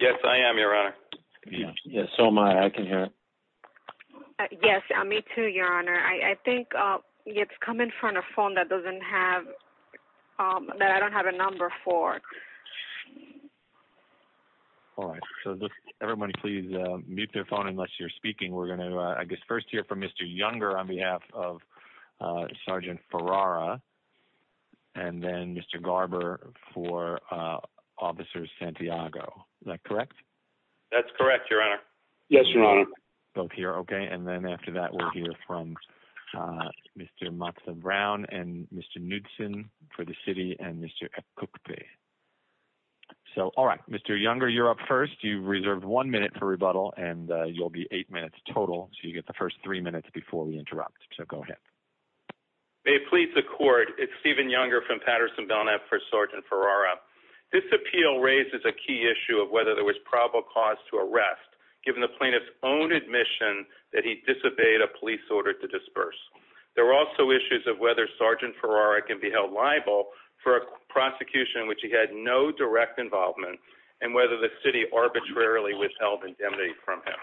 Yes, I am your honor. Yes, so am I, I can hear it. Yes, me too your honor. I think it's come in front of a phone that doesn't have, that I don't have a number for. All right, so everybody please mute their phone unless you're speaking we're going to, I guess, first here from Mr younger on behalf of Sergeant Ferrara. And then Mr Garber for officers Santiago, correct. That's correct, your honor. Yes, your honor. Both here. Okay. And then after that we'll hear from Mr. Brown and Mr. Knudson for the city and Mr. So, all right, Mr younger you're up first you reserved one minute for rebuttal and you'll be eight minutes total, so you get the first three minutes before we interrupt. So go ahead. May it please the court. It's even younger from Patterson Belknap for Sergeant Ferrara. This appeal raises a key issue of whether there was probable cause to arrest, given the plaintiff's own admission that he disobeyed a police order to disperse. There were also issues of whether Sergeant Ferrara can be held liable for prosecution which he had no direct involvement, and whether the city arbitrarily withheld indemnity from him.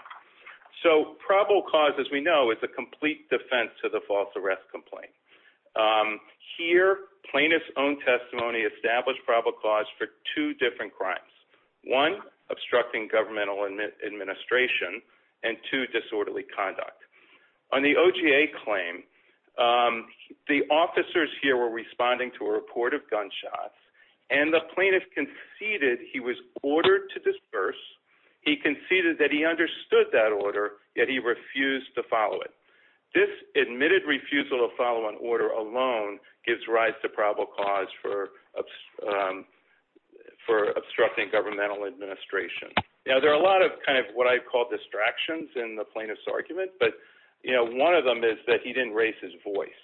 So probable cause, as we know, is a complete defense to the false arrest complaint. Here plaintiff's own testimony established probable cause for two different crimes. One, obstructing governmental administration, and two disorderly conduct. On the OGA claim, the officers here were responding to a report of gunshots and the plaintiff conceded he was ordered to disperse. He conceded that he understood that order, yet he refused to follow it. This admitted refusal to follow an order alone gives rise to probable cause for obstructing governmental administration. Now there are a lot of what I call distractions in the plaintiff's argument, but one of them is that he didn't raise his voice.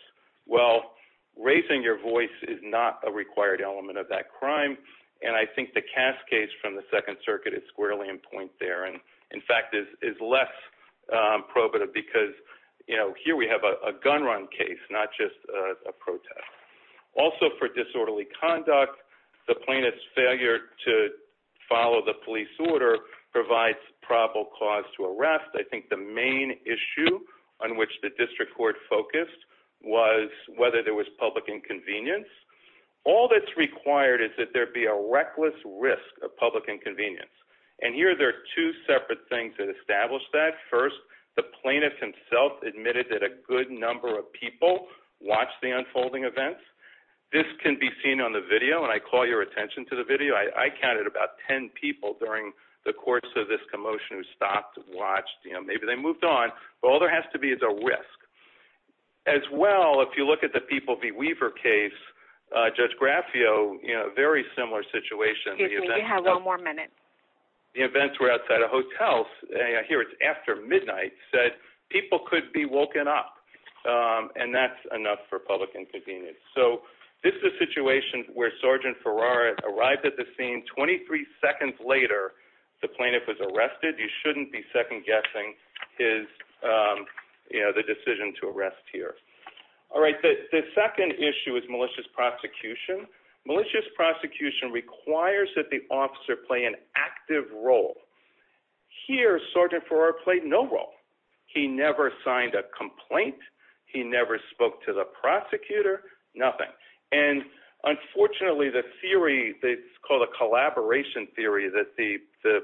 Well, raising your voice is not a required element of that crime, and I think the Cass case from the Second Circuit is squarely in point there, and in fact is less probative because here we have a gun run case, not just a protest. Also for disorderly conduct, the plaintiff's failure to follow the police order provides probable cause to arrest. I think the main issue on which the district court focused was whether there was public inconvenience. All that's required is that there be a reckless risk of public inconvenience, and here there are two separate things that establish that. First, the plaintiff himself admitted that a good number of people watched the unfolding events. This can be seen on the video, and I call your attention to the video. I counted about 10 people during the course of this commotion who stopped and watched. Maybe they moved on, but all there has to be is a risk. As well, if you look at the People v. Weaver case, Judge Graffio, a very similar situation. Excuse me, you have one more minute. The events were outside a hotel, and I hear it's after midnight, said people could be woken up, and that's enough for public inconvenience. So this is a situation where Sergeant Ferrara arrived at the scene 23 seconds later the plaintiff was arrested. You shouldn't be second-guessing the decision to arrest here. All right, the second issue is malicious prosecution. Malicious prosecution requires that the officer play an active role. Here, Sergeant Ferrara played no role. He never signed a complaint. He never spoke to the prosecutor. Nothing. And unfortunately, the theory that's called a collaboration theory that the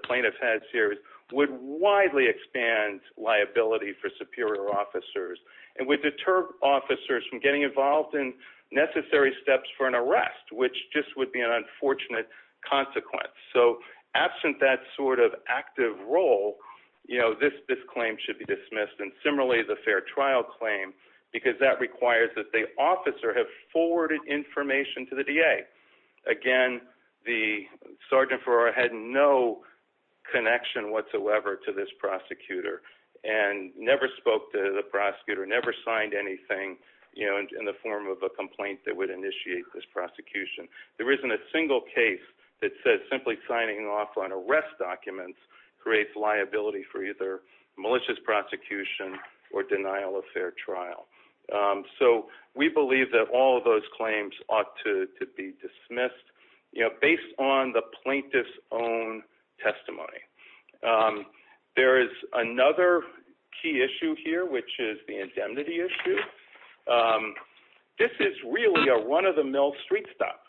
plaintiff had here would widely expand liability for superior officers, and would deter officers from getting involved in necessary steps for an arrest, which just would be an unfortunate consequence. So absent that sort of active role, this claim should be dismissed, and similarly the fair trial claim, because that requires that the officer have forwarded information to the DA. Again, Sergeant Ferrara had no connection whatsoever to this prosecutor, and never spoke to the prosecutor, never signed anything in the form of a complaint that would initiate this prosecution. There isn't a single case that says simply signing off on arrest documents creates liability for either malicious prosecution or denial of fair trial. So we believe that all of those claims ought to be dismissed, you know, based on the plaintiff's own testimony. There is another key issue here, which is the indemnity issue. This is really a run-of-the-mill street stop.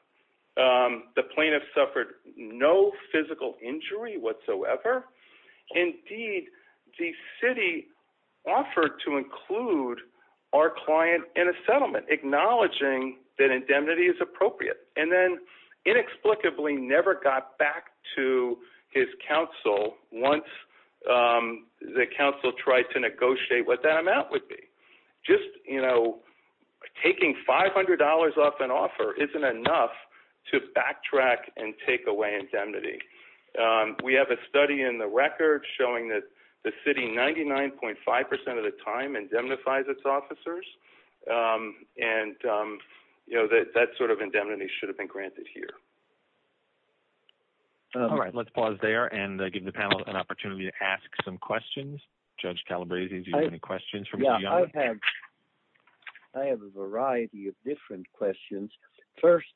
The plaintiff suffered no physical injury whatsoever. Indeed, the city offered to include our client in a settlement, acknowledging that indemnity is appropriate, and then inexplicably never got back to his counsel once the counsel tried to negotiate what that amount would be. Just, you know, taking $500 off an offer isn't enough to backtrack and take away indemnity. We have a study in the record showing that the city 99.5% of the time indemnifies its officers, and, you know, that sort of indemnity should have been granted here. All right, let's pause there and give the panel an opportunity to ask some questions. Judge Calabresi, do you have any questions? Yeah, I have a variety of different questions. First,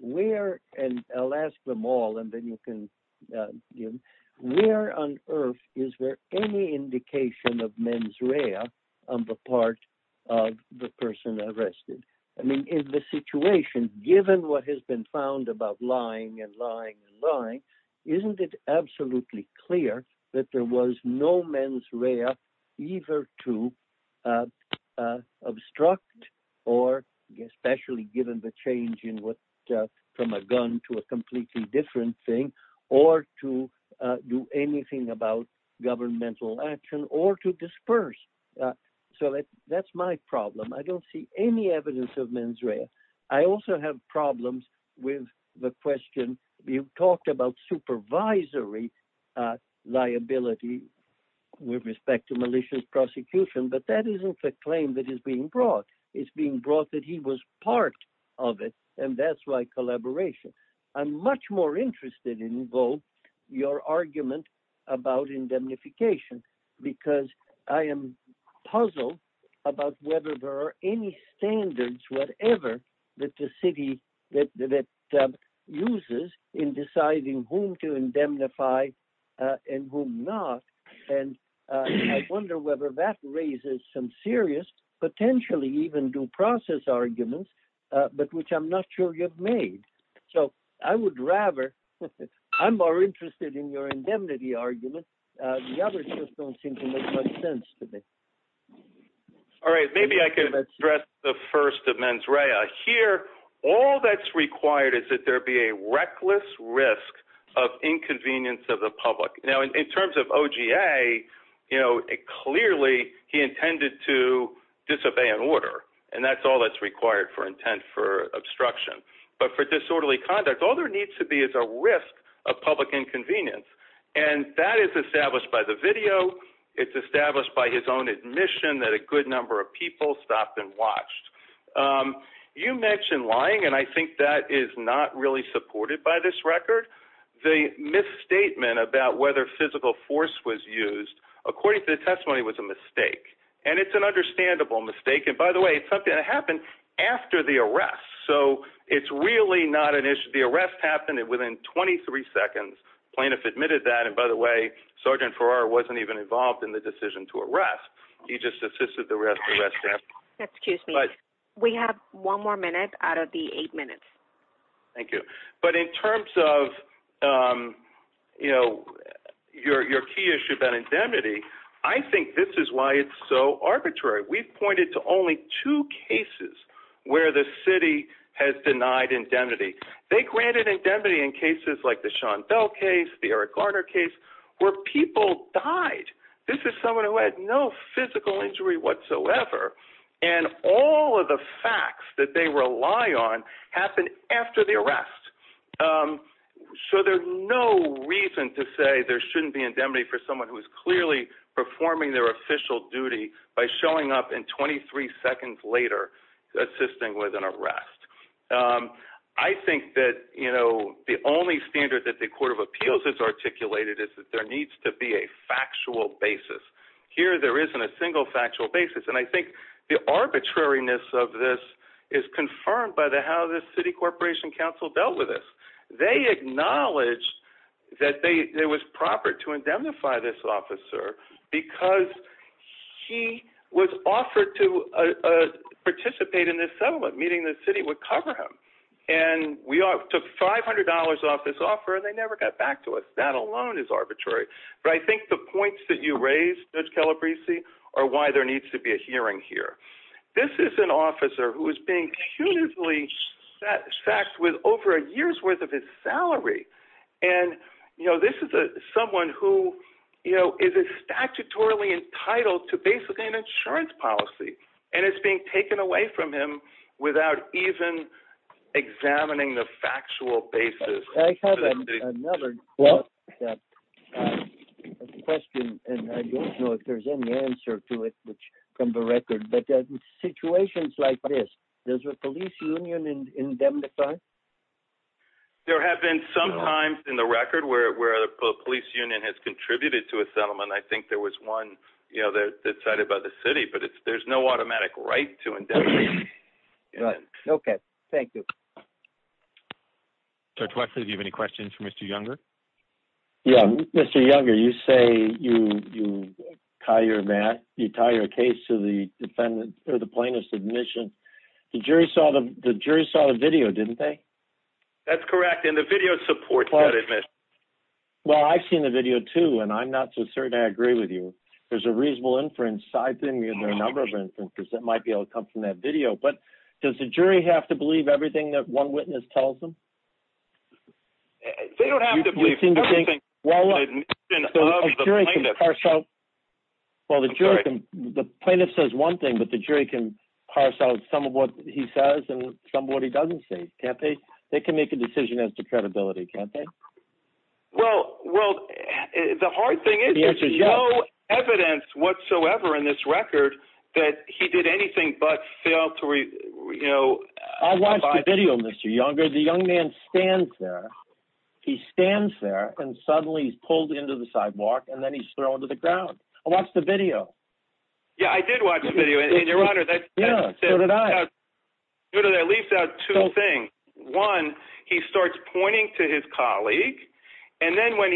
where—and I'll ask them all, and then you can give—where on earth is there any indication of mens rea on the part of the person arrested? I mean, in this situation, given what has been found about lying and lying and lying, isn't it absolutely clear that there was no mens rea either to obstruct or, especially given the change from a gun to a completely different thing, or to do anything about governmental action, or to disperse? So that's my problem. I don't see any evidence of mens rea. I also have problems with the question—you talked about supervisory liability with respect to malicious prosecution, but that isn't the claim that is being brought. It's being brought that he was part of it, and that's why collaboration. I'm much more interested in, though, your argument about indemnification, because I am puzzled about whether there are any standards, whatever, that the city—that uses in deciding whom to indemnify and whom not, and I wonder whether that raises some serious, potentially even due process arguments, but which I'm not sure you've made. So I would rather—I'm more interested in your indemnity argument. The others just don't seem to make much sense to me. All right, maybe I can address the first of mens rea. Here, all that's required is that there be a reckless risk of inconvenience of the public. Now, in terms of OGA, clearly he intended to disobey an order, and that's all that's required for intent for obstruction. But for disorderly conduct, all there needs to be is a risk of public inconvenience, and that is established by the video. It's established by his own admission that a good number of people stopped and watched. You mentioned lying, and I think that is not really supported by this record. The misstatement about whether physical force was used, according to the testimony, was a mistake, and it's an understandable mistake. And by the way, it's something that happened after the arrest. So it's really not an issue. The arrest happened within 23 seconds. Plaintiff admitted that, and by the way, Sergeant Farrar wasn't even involved in the decision to arrest. He just assisted the arrest staff. Excuse me. We have one more minute out of the eight minutes. Thank you. But in terms of your key issue about indemnity, I think this is why it's so arbitrary. We've pointed to only two cases where the city has denied indemnity. They granted indemnity in cases like the Sean Bell case, the Eric Garner case, where people died. This is someone who had no physical injury whatsoever, and all of the facts that they rely on happened after the arrest. So there's no reason to say there shouldn't be indemnity for someone who is clearly performing their official duty by showing up and 23 seconds later assisting with an arrest. I think that the only standard that the Court of Appeals has articulated is that there needs to be a factual basis. Here there isn't a single factual basis, and I think the arbitrariness of this is confirmed by how the city corporation council dealt with this. They acknowledged that it was proper to indemnify this officer because he was offered to participate in this settlement, meaning the city would cover him. And we took $500 off this offer, and they never got back to us. That alone is arbitrary. But I think the points that you raised, Judge Calabresi, are why there needs to be a hearing here. This is an officer who is being punitively sacked with over a year's worth of his salary. And this is someone who is statutorily entitled to basically an insurance policy, and it's being taken away from him without even examining the factual basis. I have another question, and I don't know if there's any answer to it from the record. But in situations like this, does the police union indemnify? There have been some times in the record where a police union has contributed to a settlement. I think there was one that was decided by the city, but there's no automatic right to indemnify. Okay. Thank you. Judge Wexler, do you have any questions for Mr. Younger? Yeah. Mr. Younger, you say you tie your case to the defendant or the plaintiff's admission. The jury saw the video, didn't they? That's correct, and the video supports that admission. Well, I've seen the video, too, and I'm not so certain I agree with you. There's a reasonable inference. I've seen a number of inferences that might be able to come from that video. But does the jury have to believe everything that one witness tells them? They don't have to believe everything that the plaintiff says. Well, the plaintiff says one thing, but the jury can parse out some of what he says and some of what he doesn't say, can't they? They can make a decision as to credibility, can't they? Well, the hard thing is there's no evidence whatsoever in this record that he did anything but fail to – I watched the video, Mr. Younger. The young man stands there. He stands there, and suddenly he's pulled into the sidewalk, and then he's thrown to the ground. I watched the video. Yeah, I did watch the video, and, Your Honor, that leaves out two things. One, he starts pointing to his colleague, and then when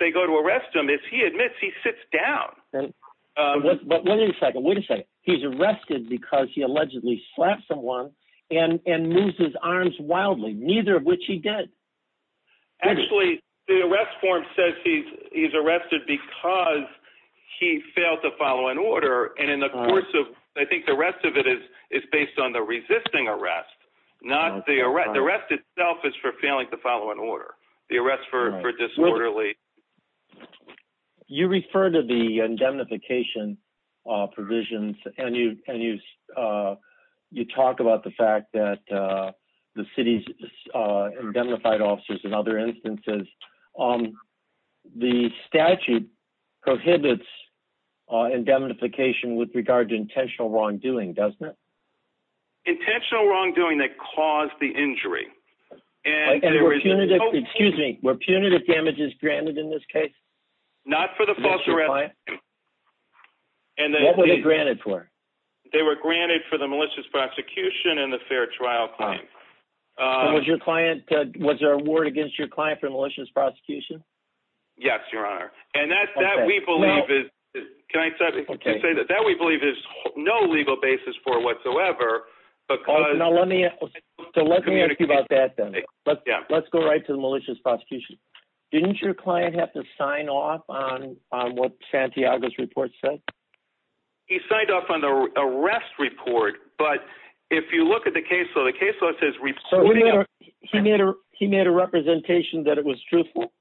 they go to arrest him, as he admits, he sits down. But wait a second. Wait a second. He's arrested because he allegedly slapped someone and moved his arms wildly, neither of which he did. Actually, the arrest form says he's arrested because he failed to follow an order, and in the course of – The arrest itself is for failing to follow an order. The arrest for disorderly – You refer to the indemnification provisions, and you talk about the fact that the city's indemnified officers in other instances. The statute prohibits indemnification with regard to intentional wrongdoing, doesn't it? Intentional wrongdoing that caused the injury. And were punitive damages granted in this case? Not for the false arrest. What were they granted for? They were granted for the malicious prosecution and the fair trial claim. Was there a warrant against your client for malicious prosecution? Yes, Your Honor. And that, we believe, is no legal basis for whatsoever. So let me ask you about that then. Let's go right to the malicious prosecution. Didn't your client have to sign off on what Santiago's report said? He signed off on the arrest report, but if you look at the case law, the case law says – He made a representation that it was truthful?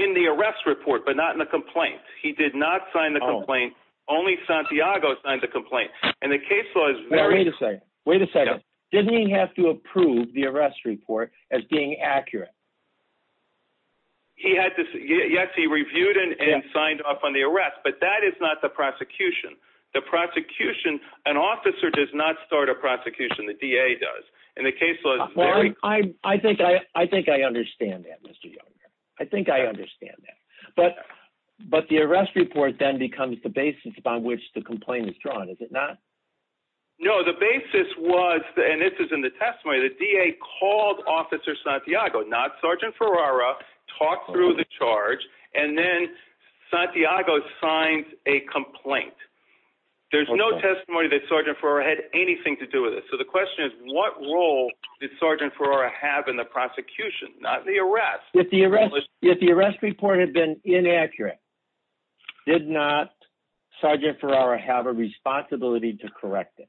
In the arrest report, but not in the complaint. He did not sign the complaint. Only Santiago signed the complaint. Wait a second. Wait a second. Didn't he have to approve the arrest report as being accurate? Yes, he reviewed it and signed off on the arrest, but that is not the prosecution. The prosecution – an officer does not start a prosecution. The DA does. I think I understand that, Mr. Younger. I think I understand that. But the arrest report then becomes the basis upon which the complaint is drawn, is it not? No, the basis was – and this is in the testimony – the DA called Officer Santiago, not Sergeant Ferrara, talked through the charge, and then Santiago signed a complaint. There's no testimony that Sergeant Ferrara had anything to do with it. So the question is, what role did Sergeant Ferrara have in the prosecution, not the arrest? If the arrest report had been inaccurate, did not Sergeant Ferrara have a responsibility to correct it?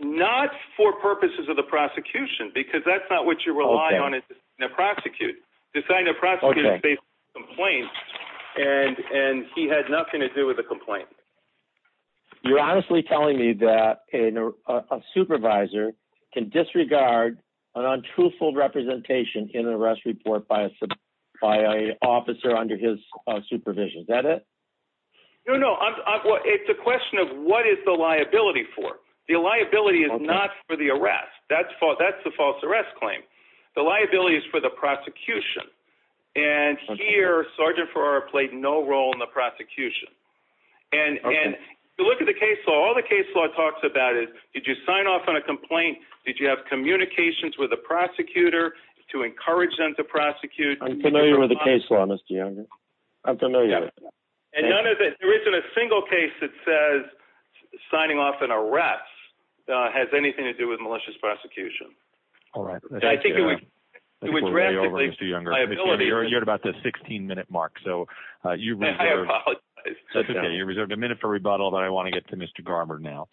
Not for purposes of the prosecution, because that's not what you rely on in a prosecution. He signed a prosecution-based complaint, and he had nothing to do with the complaint. You're honestly telling me that a supervisor can disregard an untruthful representation in an arrest report by an officer under his supervision. Is that it? No, no. It's a question of what is the liability for. The liability is not for the arrest. That's the false arrest claim. The liability is for the prosecution. And here, Sergeant Ferrara played no role in the prosecution. And if you look at the case law, all the case law talks about is, did you sign off on a complaint? Did you have communications with the prosecutor to encourage them to prosecute? I'm familiar with the case law, Mr. Younger. I'm familiar. And there isn't a single case that says signing off an arrest has anything to do with malicious prosecution. All right. I think we're way over, Mr. Younger. You're at about the 16-minute mark. I apologize. That's okay. You reserved a minute for rebuttal, but I want to get to Mr. Garber now.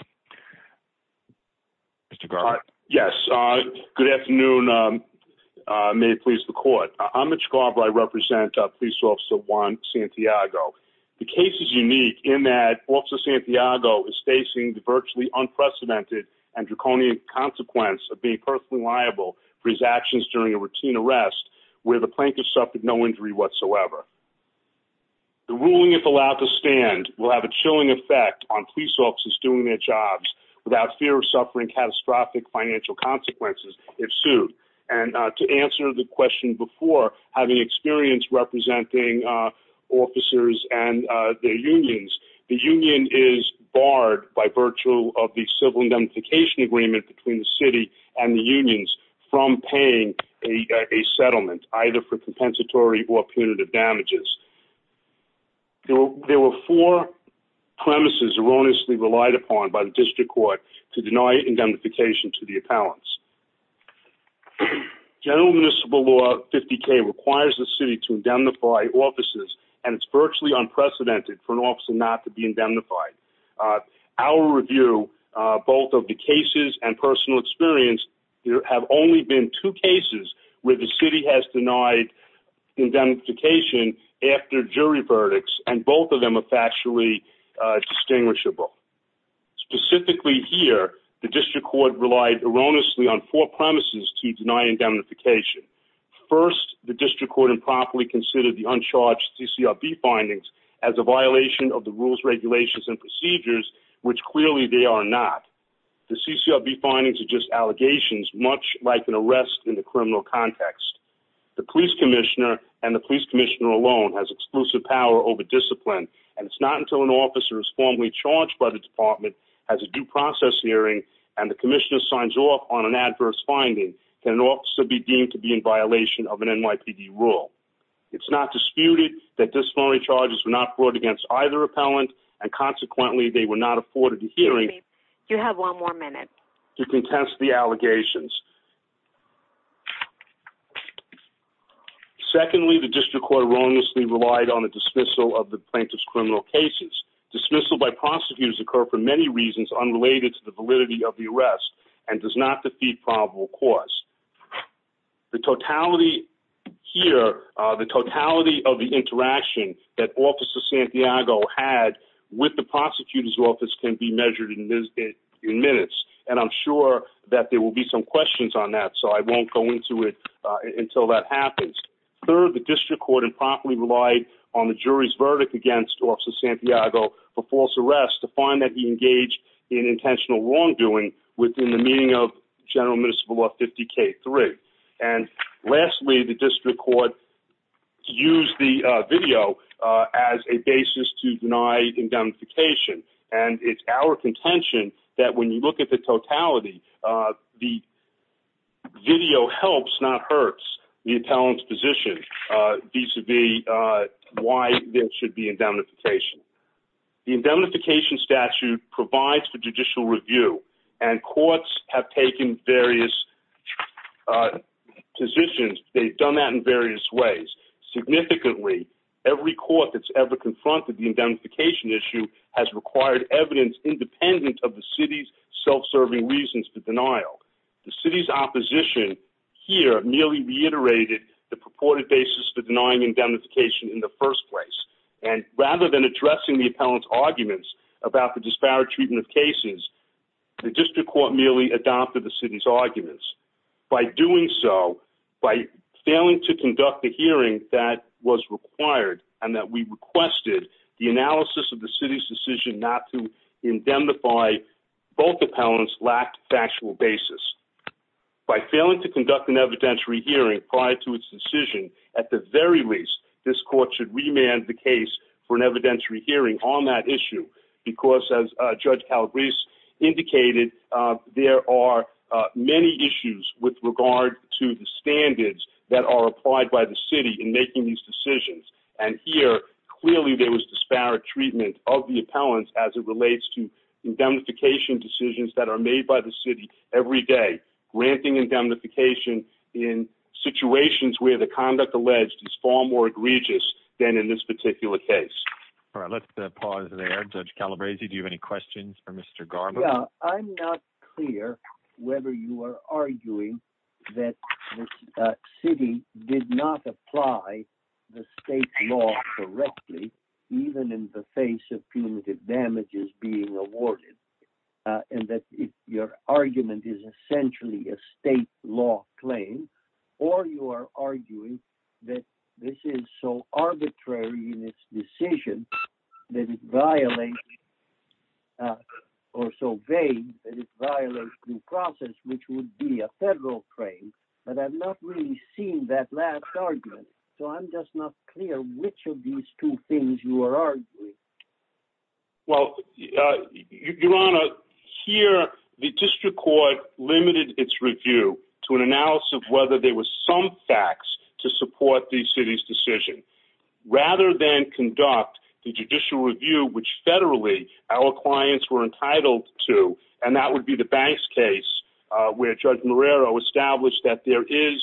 Mr. Garber? Yes. Good afternoon. May it please the court. I'm Mitch Garber. I represent Police Officer 1 Santiago. The case is unique in that Officer Santiago is facing the virtually unprecedented and draconian consequence of being personally liable for his actions during a routine arrest where the plaintiff suffered no injury whatsoever. The ruling, if allowed to stand, will have a chilling effect on police officers doing their jobs without fear of suffering catastrophic financial consequences if sued. And to answer the question before, having experience representing officers and their unions, the union is barred by virtue of the civil indemnification agreement between the city and the unions from paying a settlement, either for compensatory or punitive damages. There were four premises erroneously relied upon by the district court to deny indemnification to the appellants. General Municipal Law 50K requires the city to indemnify officers, and it's virtually unprecedented for an officer not to be indemnified. Our review, both of the cases and personal experience, have only been two cases where the city has denied indemnification after jury verdicts, and both of them are factually distinguishable. Specifically here, the district court relied erroneously on four premises to deny indemnification. First, the district court improperly considered the uncharged CCRB findings as a violation of the rules, regulations, and procedures, which clearly they are not. The CCRB findings are just allegations, much like an arrest in the criminal context. The police commissioner and the police commissioner alone has exclusive power over discipline, and it's not until an officer is formally charged by the department, has a due process hearing, and the commissioner signs off on an adverse finding, can an officer be deemed to be in violation of an NYPD rule. It's not disputed that disciplinary charges were not brought against either appellant, and consequently they were not afforded a hearing to contest the allegations. Secondly, the district court erroneously relied on the dismissal of the plaintiff's criminal cases. Dismissal by prosecutors occurred for many reasons unrelated to the validity of the arrest, and does not defeat probable cause. The totality here, the totality of the interaction that Officer Santiago had with the prosecutor's office can be measured in minutes, and I'm sure that there will be some questions on that, so I won't go into it until that happens. Third, the district court improperly relied on the jury's verdict against Officer Santiago for false arrest to find that he engaged in intentional wrongdoing within the meaning of General Municipal Law 50K3. And lastly, the district court used the video as a basis to deny indemnification, and it's our contention that when you look at the totality, the video helps, not hurts, the appellant's position vis-a-vis why there should be indemnification. The indemnification statute provides for judicial review, and courts have taken various positions, they've done that in various ways. Significantly, every court that's ever confronted the indemnification issue has required evidence independent of the city's self-serving reasons for denial. The city's opposition here merely reiterated the purported basis for denying indemnification in the first place, and rather than addressing the appellant's arguments about the disparate treatment of cases, the district court merely adopted the city's arguments. By doing so, by failing to conduct the hearing that was required, and that we requested, the analysis of the city's decision not to indemnify both appellants lacked factual basis. By failing to conduct an evidentiary hearing prior to its decision, at the very least, this court should remand the case for an evidentiary hearing on that issue, because as Judge Calabrese indicated, there are many issues with regard to the standards that are applied by the city in making these decisions. And here, clearly there was disparate treatment of the appellants as it relates to indemnification decisions that are made by the city every day, granting indemnification in situations where the conduct alleged is far more egregious than in this particular case. All right, let's pause there. Judge Calabrese, do you have any questions for Mr. Garber? Yeah, I'm not clear whether you are arguing that the city did not apply the state law correctly, even in the face of punitive damages being awarded, and that your argument is essentially a state law claim, or you are arguing that this is so arbitrary in its decision that it violates, or so vague that it violates due process, which would be a federal claim, but I've not really seen that last argument, so I'm just not clear which of these two things you are arguing. Well, Your Honor, here the district court limited its review to an analysis of whether there were some facts to support the city's decision, rather than conduct the judicial review, which federally our clients were entitled to, and that would be the banks case where Judge Marrero established that there is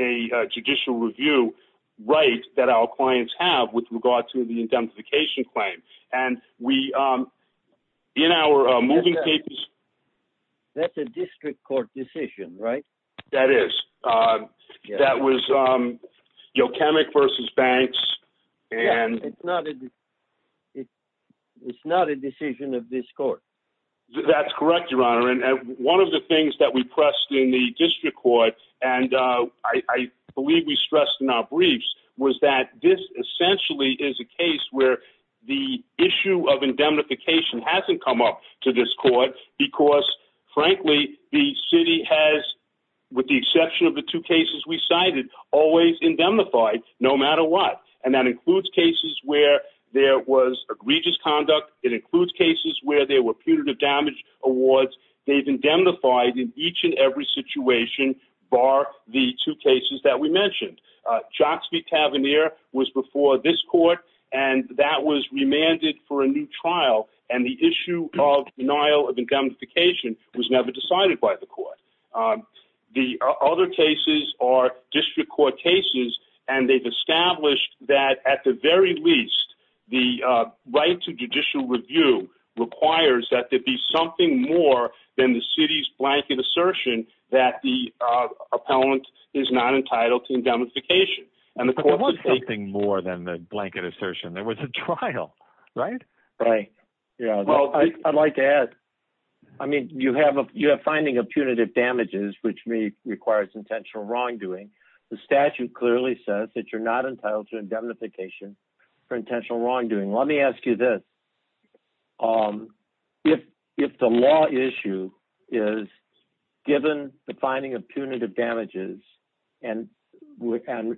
a judicial review right that our clients have with regard to the indemnification claim. That's a district court decision, right? That is. That was Yochemic v. Banks. Yeah, it's not a decision of this court. That's correct, Your Honor, and one of the things that we pressed in the district court, and I believe we stressed in our briefs, was that this essentially is a case where the issue of indemnification hasn't come up to this court because, frankly, the city has, with the exception of the two cases we cited, always indemnified, no matter what. And that includes cases where there was egregious conduct. It includes cases where there were punitive damage awards. They've indemnified in each and every situation, bar the two cases that we mentioned. The other cases are district court cases, and they've established that, at the very least, the right to judicial review requires that there be something more than the city's blanket assertion that the appellant is not entitled to indemnification. But there was something more than the blanket assertion. There was a trial, right? Right, yeah. Well, I'd like to add, I mean, you have a finding of punitive damages, which may require some intentional wrongdoing. The statute clearly says that you're not entitled to indemnification for intentional wrongdoing. Let me ask you this. If the law issue is, given the finding of punitive damages and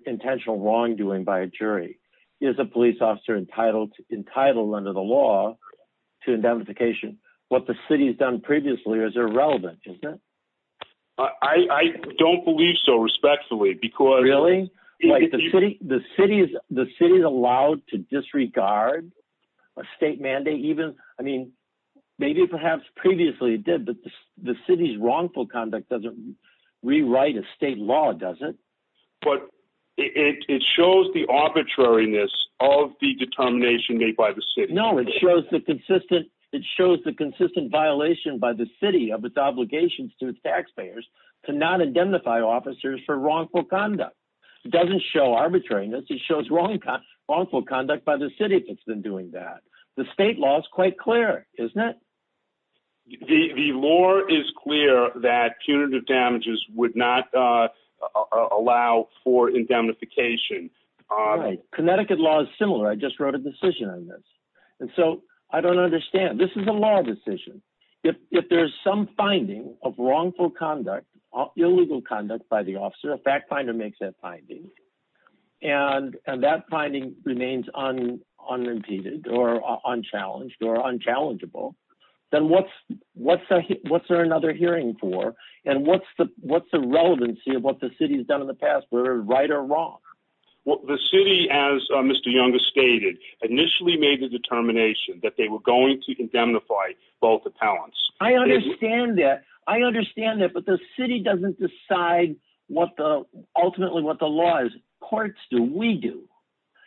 intentional wrongdoing by a jury, is a police officer entitled under the law to indemnification? What the city's done previously is irrelevant, isn't it? I don't believe so, respectfully. Really? The city is allowed to disregard a state mandate? I mean, maybe perhaps previously it did, but the city's wrongful conduct doesn't rewrite a state law, does it? But it shows the arbitrariness of the determination made by the city. No, it shows the consistent violation by the city of its obligations to taxpayers to not indemnify officers for wrongful conduct. It doesn't show arbitrariness. It shows wrongful conduct by the city if it's been doing that. The state law is quite clear, isn't it? The law is clear that punitive damages would not allow for indemnification. Connecticut law is similar. I just wrote a decision on this. And so I don't understand. This is a law decision. If there's some finding of wrongful conduct, illegal conduct by the officer, a fact finder makes that finding, and that finding remains unimpeded or unchallenged or unchallengeable, then what's there another hearing for? And what's the relevancy of what the city has done in the past, whether right or wrong? Well, the city, as Mr. Young has stated, initially made the determination that they were going to indemnify both appellants. I understand that. I understand that. But the city doesn't decide ultimately what the law is. Courts do. We do.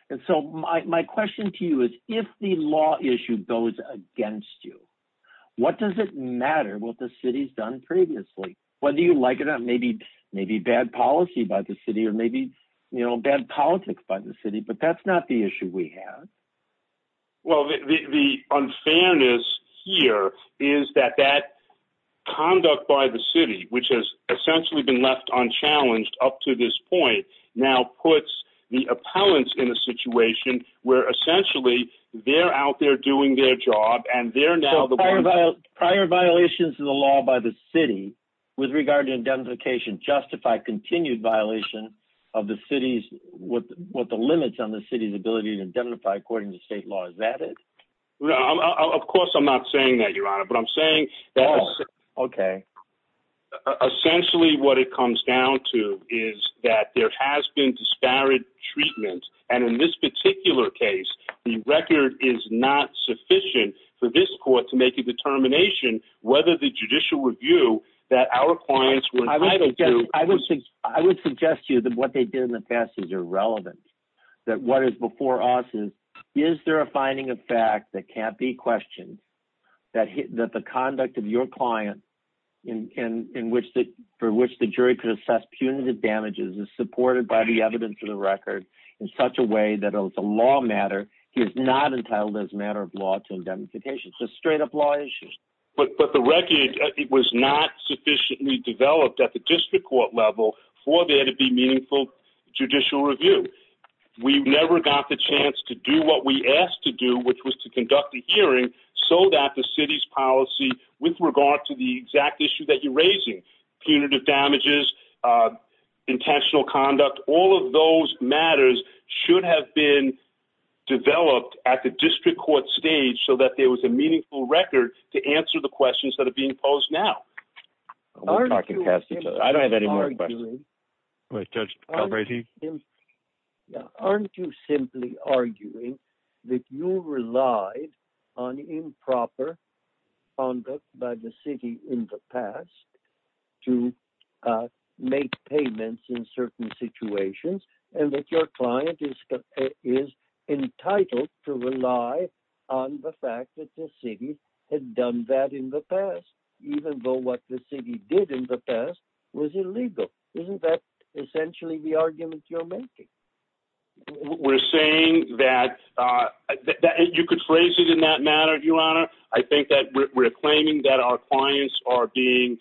And so my question to you is, if the law issue goes against you, what does it matter what the city's done previously? Whether you like it or not, maybe bad policy by the city or maybe bad politics by the city. But that's not the issue we have. Well, the unfairness here is that that conduct by the city, which has essentially been left unchallenged up to this point, now puts the appellants in a situation where essentially they're out there doing their job. So prior violations of the law by the city with regard to indemnification justify continued violation of the city's, what the limits on the city's ability to indemnify according to state law. Is that it? Of course, I'm not saying that, Your Honor, but I'm saying that. OK. Essentially, what it comes down to is that there has been disparate treatment. And in this particular case, the record is not sufficient for this court to make a determination whether the judicial review that our clients were entitled to. I would suggest to you that what they did in the past is irrelevant, that what is before us is, is there a finding of fact that can't be questioned, that the conduct of your client for which the jury could assess punitive damages is supported by the evidence of the record in such a way that it was a law matter. He is not entitled as a matter of law to indemnification. It's a straight up law issue. But the record was not sufficiently developed at the district court level for there to be meaningful judicial review. We never got the chance to do what we asked to do, which was to conduct a hearing so that the city's policy with regard to the exact issue that you're raising punitive damages, intentional conduct. All of those matters should have been developed at the district court stage so that there was a meaningful record to answer the questions that are being posed now. Aren't you simply arguing that you relied on improper conduct by the city in the past to make payments in certain situations, and that your client is entitled to rely on the fact that the city had done that in the past. Even though what the city did in the past was illegal. Isn't that essentially the argument you're making? We're saying that you could phrase it in that manner, Your Honor. I think that we're claiming that our clients are being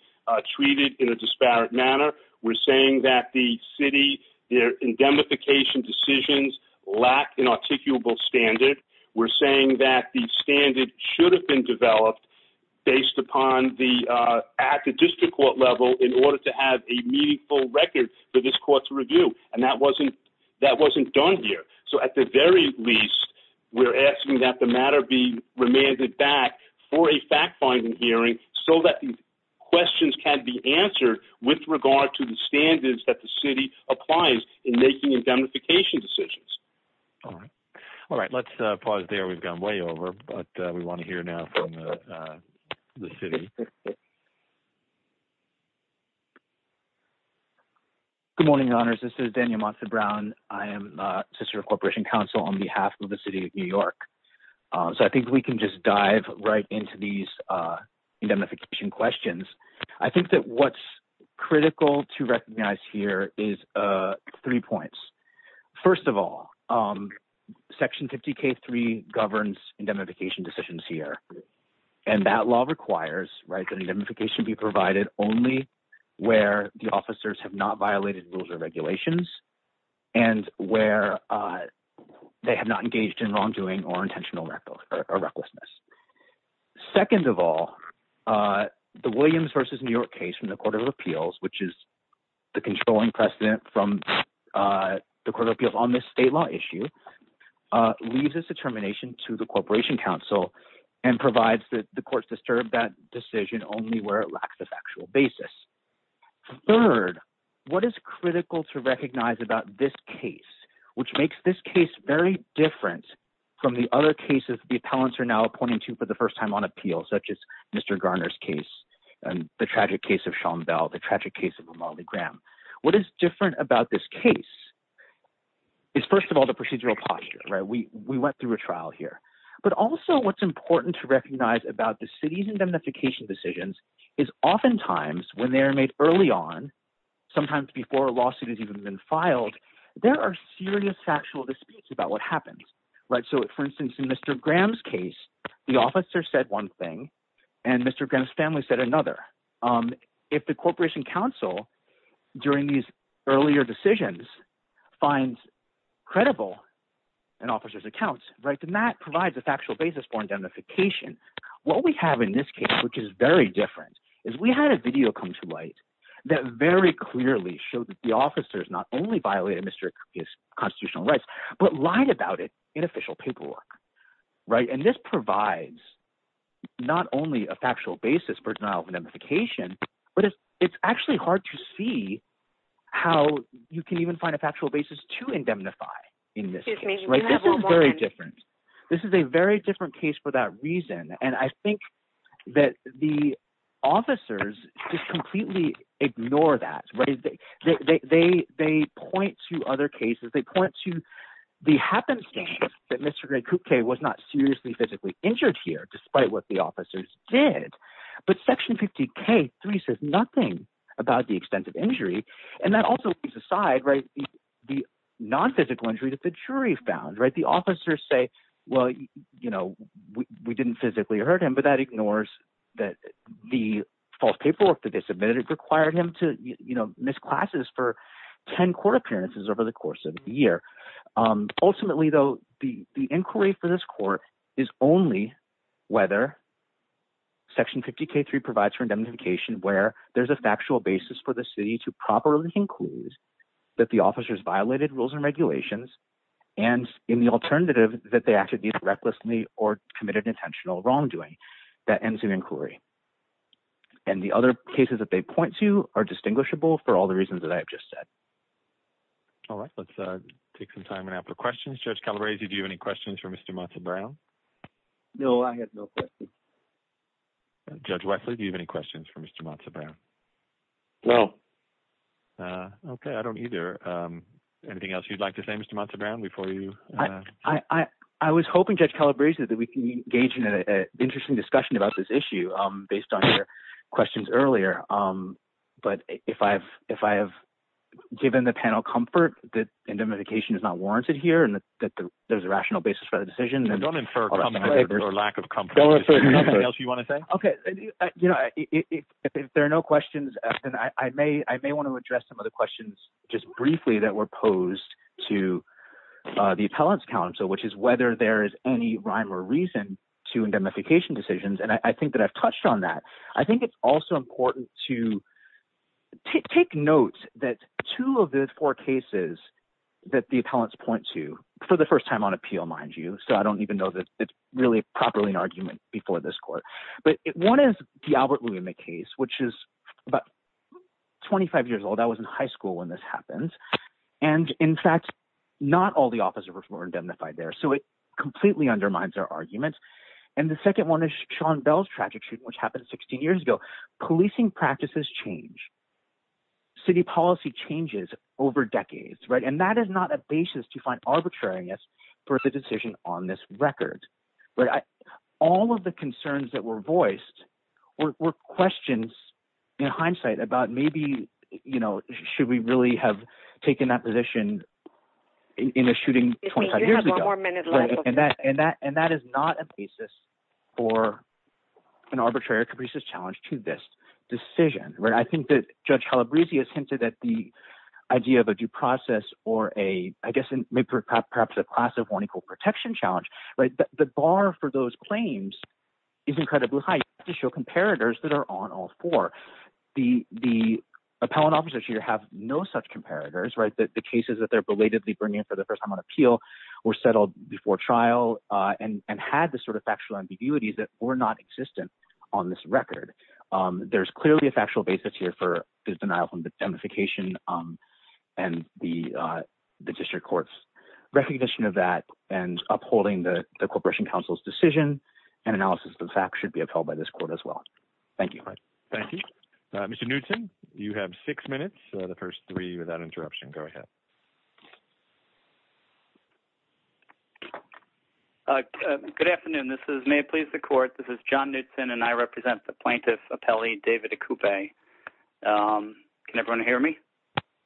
treated in a disparate manner. We're saying that the city, their indemnification decisions lack an articulable standard. We're saying that the standard should have been developed at the district court level in order to have a meaningful record for this court to review. And that wasn't done here. So at the very least, we're asking that the matter be remanded back for a fact-finding hearing so that the questions can be answered with regard to the standards that the city applies in making indemnification decisions. All right. Let's pause there. We've gone way over, but we want to hear now from the city. Good morning, Your Honors. This is Daniel Monson-Brown. I am a sister of Corporation Council on behalf of the city of New York. So I think we can just dive right into these indemnification questions. I think that what's critical to recognize here is three points. First of all, Section 50K3 governs indemnification decisions here, and that law requires that indemnification be provided only where the officers have not violated rules or regulations and where they have not engaged in wrongdoing or intentional recklessness. Second of all, the Williams v. New York case from the Court of Appeals, which is the controlling precedent from the Court of Appeals on this state law issue, leaves its determination to the Corporation Council and provides that the courts disturb that decision only where it lacks a factual basis. Third, what is critical to recognize about this case, which makes this case very different from the other cases the appellants are now appointing to for the first time on appeal, such as Mr. Garner's case and the tragic case of Sean Bell, the tragic case of Ramali Graham. What is different about this case is, first of all, the procedural posture. We went through a trial here. But also what's important to recognize about the city's indemnification decisions is oftentimes when they are made early on, sometimes before a lawsuit has even been filed, there are serious factual disputes about what happens. So for instance, in Mr. Graham's case, the officer said one thing, and Mr. Graham's family said another. If the Corporation Council during these earlier decisions finds credible an officer's account, then that provides a factual basis for indemnification. What we have in this case, which is very different, is we had a video come to light that very clearly showed that the officers not only violated Mr. Graham's constitutional rights but lied about it in official paperwork. And this provides not only a factual basis for denial of indemnification, but it's actually hard to see how you can even find a factual basis to indemnify in this case. This is very different. This is a very different case for that reason. And I think that the officers just completely ignore that. They point to other cases. They point to the happenstance that Mr. Graham was not seriously physically injured here despite what the officers did. But Section 50K-3 says nothing about the extent of injury, and that also leaves aside the nonphysical injury that the jury found. The officers say, well, we didn't physically hurt him, but that ignores that the false paperwork that they submitted required him to miss classes for 10 court appearances over the course of a year. Ultimately, though, the inquiry for this court is only whether Section 50K-3 provides for indemnification where there's a factual basis for the city to properly conclude that the officers violated rules and regulations, and in the alternative, that they acted either recklessly or committed intentional wrongdoing. That ends the inquiry. And the other cases that they point to are distinguishable for all the reasons that I have just said. All right. Let's take some time now for questions. Judge Calabresi, do you have any questions for Mr. Montserrat-Brown? No, I have no questions. Judge Wesley, do you have any questions for Mr. Montserrat-Brown? No. Okay. I don't either. Anything else you'd like to say, Mr. Montserrat-Brown, before you… I was hoping, Judge Calabresi, that we can engage in an interesting discussion about this issue based on your questions earlier. But if I have given the panel comfort that indemnification is not warranted here and that there's a rational basis for the decision… Don't infer comfort or lack of comfort. Is there anything else you want to say? Okay. If there are no questions, then I may want to address some of the questions just briefly that were posed to the appellants, which is whether there is any rhyme or reason to indemnification decisions. And I think that I've touched on that. I think it's also important to take note that two of the four cases that the appellants point to for the first time on appeal, mind you, so I don't even know that it's really properly an argument before this court. But one is the Albert William case, which is about 25 years old. I was in high school when this happened. And, in fact, not all the officers were indemnified there. So it completely undermines our argument. And the second one is Sean Bell's tragic shooting, which happened 16 years ago. Policing practices change. City policy changes over decades, right? And that is not a basis to find arbitrariness for the decision on this record. All of the concerns that were voiced were questions in hindsight about maybe should we really have taken that position in a shooting 25 years ago? And that is not a basis for an arbitrary or capricious challenge to this decision. I think that Judge Calabresi has hinted at the idea of a due process or a, I guess, perhaps a class of one equal protection challenge. The bar for those claims is incredibly high to show comparators that are on all four. The appellant officers here have no such comparators. The cases that they're belatedly bringing for the first time on appeal were settled before trial and had the sort of factual ambiguities that were not existent on this record. There's clearly a factual basis here for his denial of indemnification and the district court's recognition of that and upholding the Corporation Council's decision and analysis of the facts should be upheld by this court as well. Thank you. Thank you, Mr. Newton. You have six minutes. The first three without interruption. Go ahead. Good afternoon. This is may it please the court. This is John Knutson and I represent the plaintiff appellee, David Cooper. Can everyone hear me?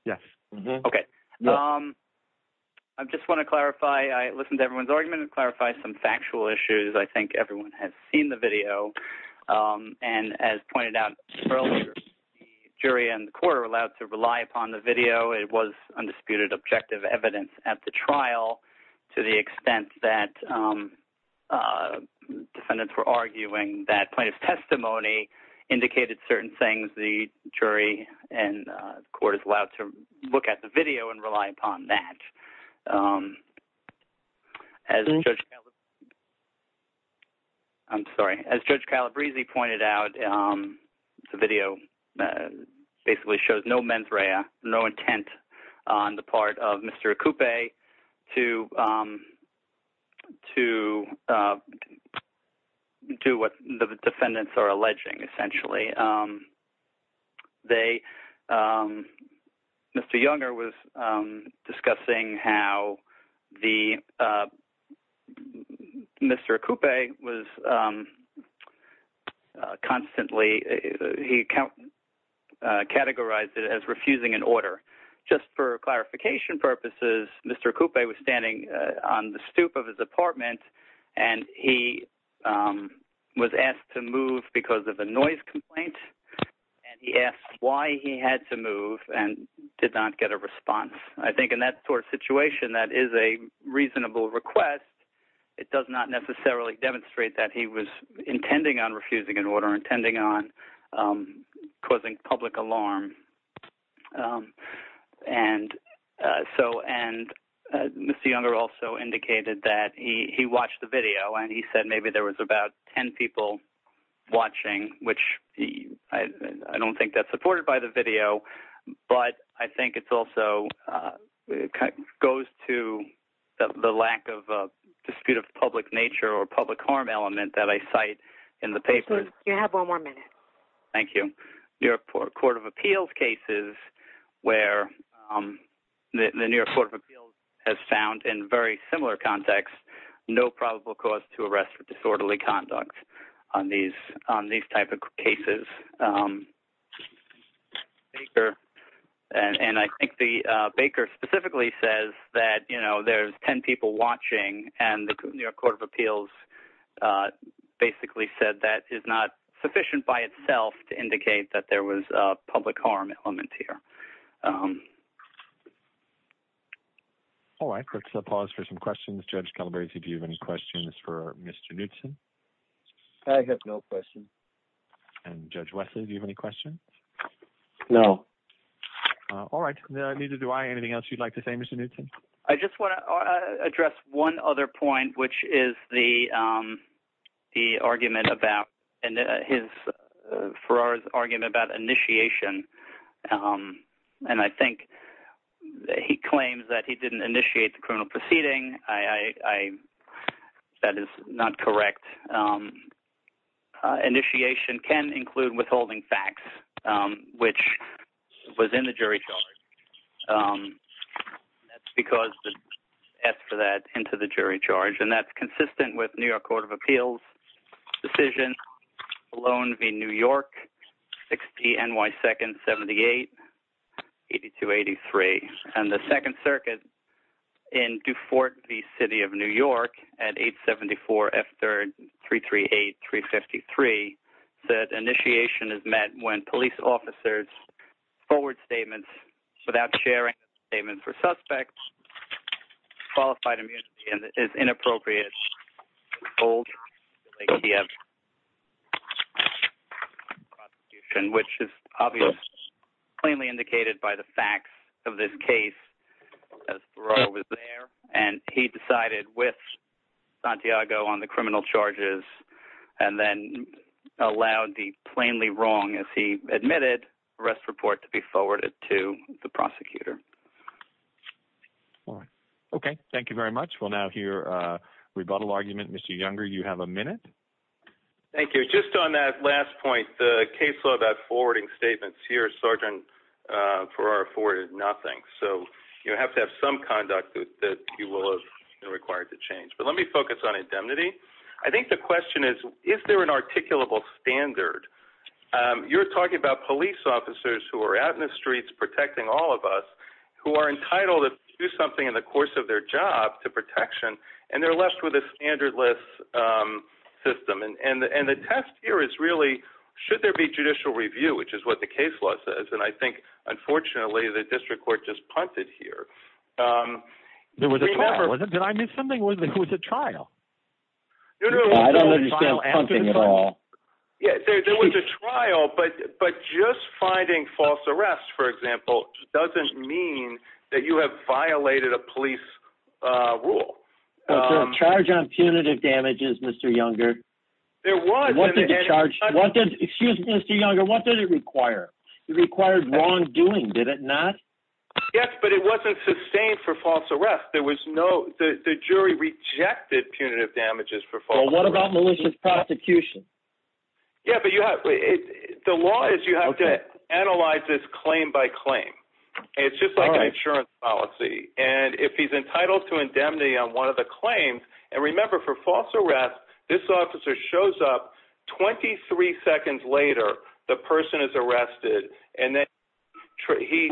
Yes. Okay. I just want to clarify. I listened to everyone's argument and clarify some factual issues. I think everyone has seen the video and as pointed out earlier, the jury and the court are allowed to rely upon the video. It was undisputed objective evidence at the trial to the extent that defendants were arguing that plaintiff's testimony indicated certain things. The jury and court is allowed to look at the video and rely upon that. As I'm sorry, as Judge Calabrese pointed out, the video basically shows no mens rea, no intent on the part of Mr. Cooper to to do what the defendants are alleging. Essentially, they Mr. Younger was discussing how the Mr. Cooper was constantly. He categorized it as refusing an order just for clarification purposes. Mr. Cooper was standing on the stoop of his apartment and he was asked to move because of a noise complaint. And he asked why he had to move and did not get a response. I think in that sort of situation, that is a reasonable request. It does not necessarily demonstrate that he was intending on refusing an order, intending on causing public alarm. And so and Mr. Younger also indicated that he watched the video and he said maybe there was about 10 people watching, which I don't think that's supported by the video. But I think it's also goes to the lack of dispute of public nature or public harm element that I cite in the paper. You have one more minute. Thank you. New York Court of Appeals cases where the New York Court of Appeals has found in very similar context, no probable cause to arrest for disorderly conduct on these on these type of cases. Baker and I think the Baker specifically says that, you know, there's 10 people watching and the New York Court of Appeals basically said that is not sufficient by itself to indicate that there was a public harm element here. All right. Let's pause for some questions. Judge Calabresi, do you have any questions for Mr. Newton? I have no question. And Judge Wesley, do you have any questions? No. All right. Neither do I. Anything else you'd like to say, Mr. Newton? I just want to address one other point, which is the the argument about his argument about initiation. And I think he claims that he didn't initiate the criminal proceeding. I, that is not correct. Initiation can include withholding facts, which was in the jury charge. Because for that into the jury charge, and that's consistent with New York Court of Appeals decision alone. The New York NY 2nd, 78, 82, 83. And the 2nd Circuit in Dufort, the city of New York at 874 F3338353 said initiation is met when police officers forward statements without sharing statements for suspects qualified immunity is inappropriate. Old. Which is obviously plainly indicated by the facts of this case. And he decided with Santiago on the criminal charges and then allowed the plainly wrong as he admitted arrest report to be forwarded to the prosecutor. All right. Okay. Thank you very much. We'll now hear rebuttal argument. Mr. Younger, you have a minute. Thank you. Just on that last point, the case law that forwarding statements here, Sergeant for our afforded nothing. So you have to have some conduct that you will have required to change. But let me focus on indemnity. I think the question is, is there an articulable standard? You're talking about police officers who are out in the streets protecting all of us who are entitled to do something in the course of their job to protection. And they're left with a standard list system. And the test here is really, should there be judicial review, which is what the case law says? And I think, unfortunately, the district court just punted here. There was a. Did I miss something? Who's a trial? No, no, no. Yeah, there was a trial. But but just finding false arrest, for example, doesn't mean that you have violated a police rule. Charge on punitive damages, Mr. Younger. There was one charge. Excuse me, Mr. Younger. What did it require? It required wrongdoing. Did it not? Yes, but it wasn't sustained for false arrest. There was no. The jury rejected punitive damages for. What about malicious prosecution? Yeah, but you have the law is you have to analyze this claim by claim. It's just like an insurance policy. And if he's entitled to indemnity on one of the claims. And remember, for false arrest, this officer shows up. Twenty three seconds later, the person is arrested and then he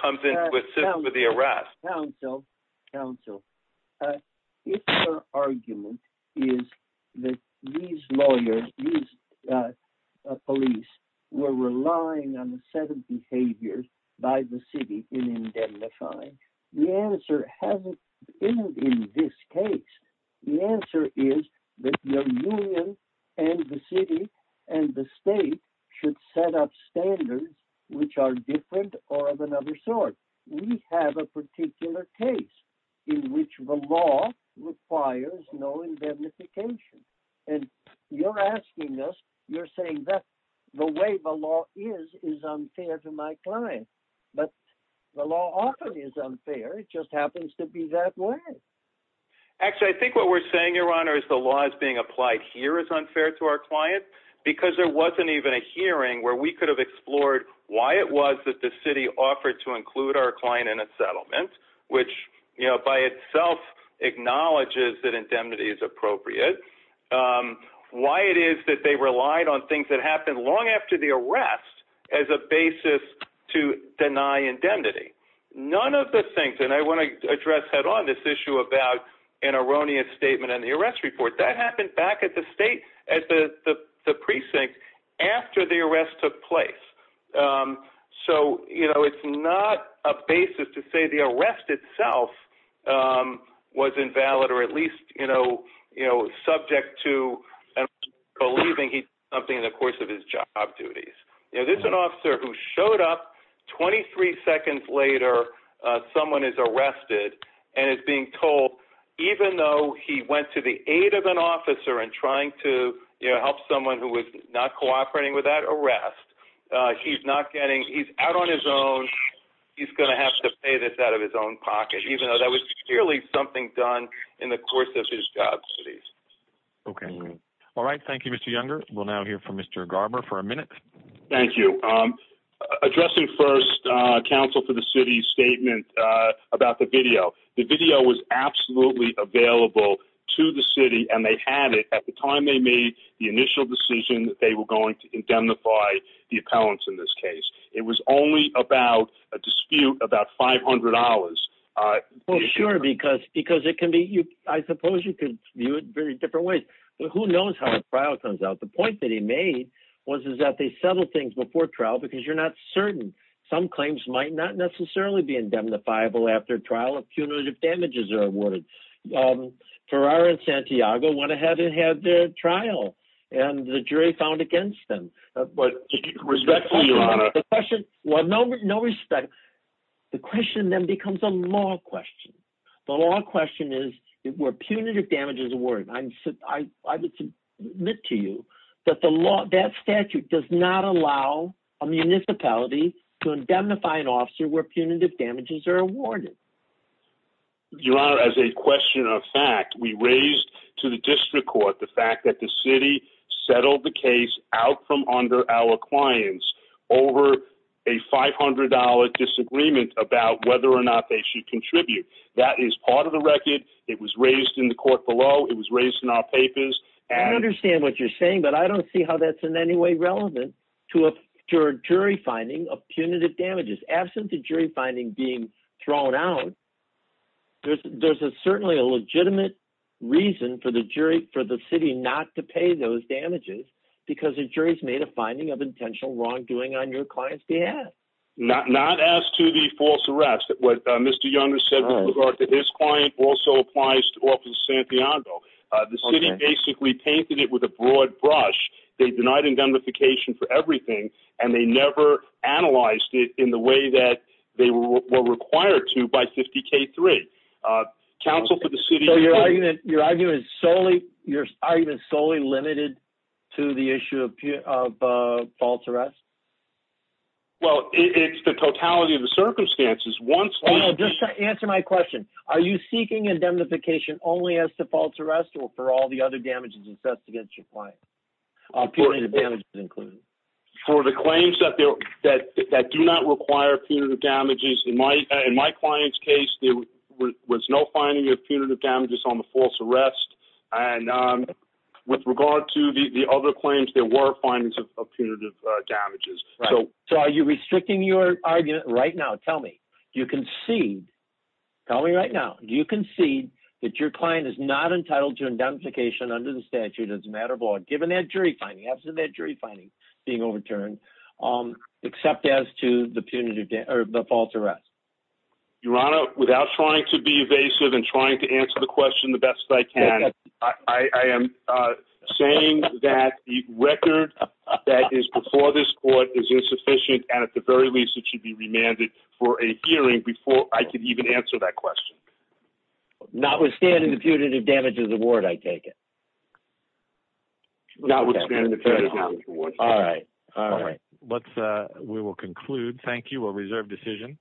comes in with the arrest. So counsel, if your argument is that these lawyers, these police were relying on the set of behaviors by the city in identifying. The answer hasn't been in this case. The answer is that your union and the city and the state should set up standards which are different or of another sort. We have a particular case in which the law requires no indemnification. And you're asking us, you're saying that the way the law is, is unfair to my client. But the law often is unfair. It just happens to be that way. Actually, I think what we're saying, Your Honor, is the law is being applied here is unfair to our client because there wasn't even a hearing where we could have explored why it was that the city offered to include us. Our client in a settlement, which, you know, by itself acknowledges that indemnity is appropriate. Why it is that they relied on things that happened long after the arrest as a basis to deny indemnity. None of the things. And I want to address head on this issue about an erroneous statement and the arrest report that happened back at the state, at the precinct after the arrest took place. So, you know, it's not a basis to say the arrest itself was invalid or at least, you know, you know, subject to believing something in the course of his job duties. You know, this is an officer who showed up. Twenty three seconds later, someone is arrested and is being told, even though he went to the aid of an officer and trying to help someone who was not cooperating with that arrest, he's not getting he's out on his own. He's going to have to pay this out of his own pocket, even though that was clearly something done in the course of his job. OK. All right. Thank you, Mr. Younger. We'll now hear from Mr. Garber for a minute. Thank you. Addressing first council for the city statement about the video. The video was absolutely available to the city and they had it at the time they made the initial decision that they were going to indemnify the appellants in this case. It was only about a dispute about five hundred dollars. Well, sure, because because it can be you. I suppose you could view it very different ways. Who knows how a trial comes out? The point that he made was, is that they settled things before trial because you're not certain. Some claims might not necessarily be indemnifiable after trial. A punitive damages are awarded. Ferraro and Santiago went ahead and had the trial and the jury found against them. But respect the question. Well, no, no respect. The question then becomes a law question. The law question is, were punitive damages awarded? I would submit to you that the law, that statute does not allow a municipality to indemnify an officer where punitive damages are awarded. Your Honor, as a question of fact, we raised to the district court the fact that the city settled the case out from under our clients over a five hundred dollar disagreement about whether or not they should contribute. That is part of the record. It was raised in the court below. It was raised in our papers. I understand what you're saying, but I don't see how that's in any way relevant to a jury finding of punitive damages. Absent the jury finding being thrown out, there's certainly a legitimate reason for the city not to pay those damages because the jury's made a finding of intentional wrongdoing on your client's behalf. Not as to the false arrest. What Mr. Young has said with regard to his client also applies to the office of Santiago. The city basically painted it with a broad brush. They denied indemnification for everything, and they never analyzed it in the way that they were required to by 50-K-3. Counsel for the city... So your argument is solely limited to the issue of false arrest? It's the totality of the circumstances. Just answer my question. Are you seeking indemnification only as to false arrest or for all the other damages assessed against your client, punitive damages included? For the claims that do not require punitive damages, in my client's case, there was no finding of punitive damages on the false arrest. And with regard to the other claims, there were findings of punitive damages. So are you restricting your argument right now? Tell me. Do you concede... Tell me right now. Do you concede that your client is not entitled to indemnification under the statute as a matter of law, given that jury finding, after that jury finding being overturned, except as to the false arrest? Your Honor, without trying to be evasive and trying to answer the question the best I can, I am saying that the record that is before this court is insufficient, and at the very least, it should be remanded for a hearing before I can even answer that question. Notwithstanding the punitive damages award, I take it? Notwithstanding the punitive damages award. All right. All right. We will conclude. Thank you. We'll reserve decision.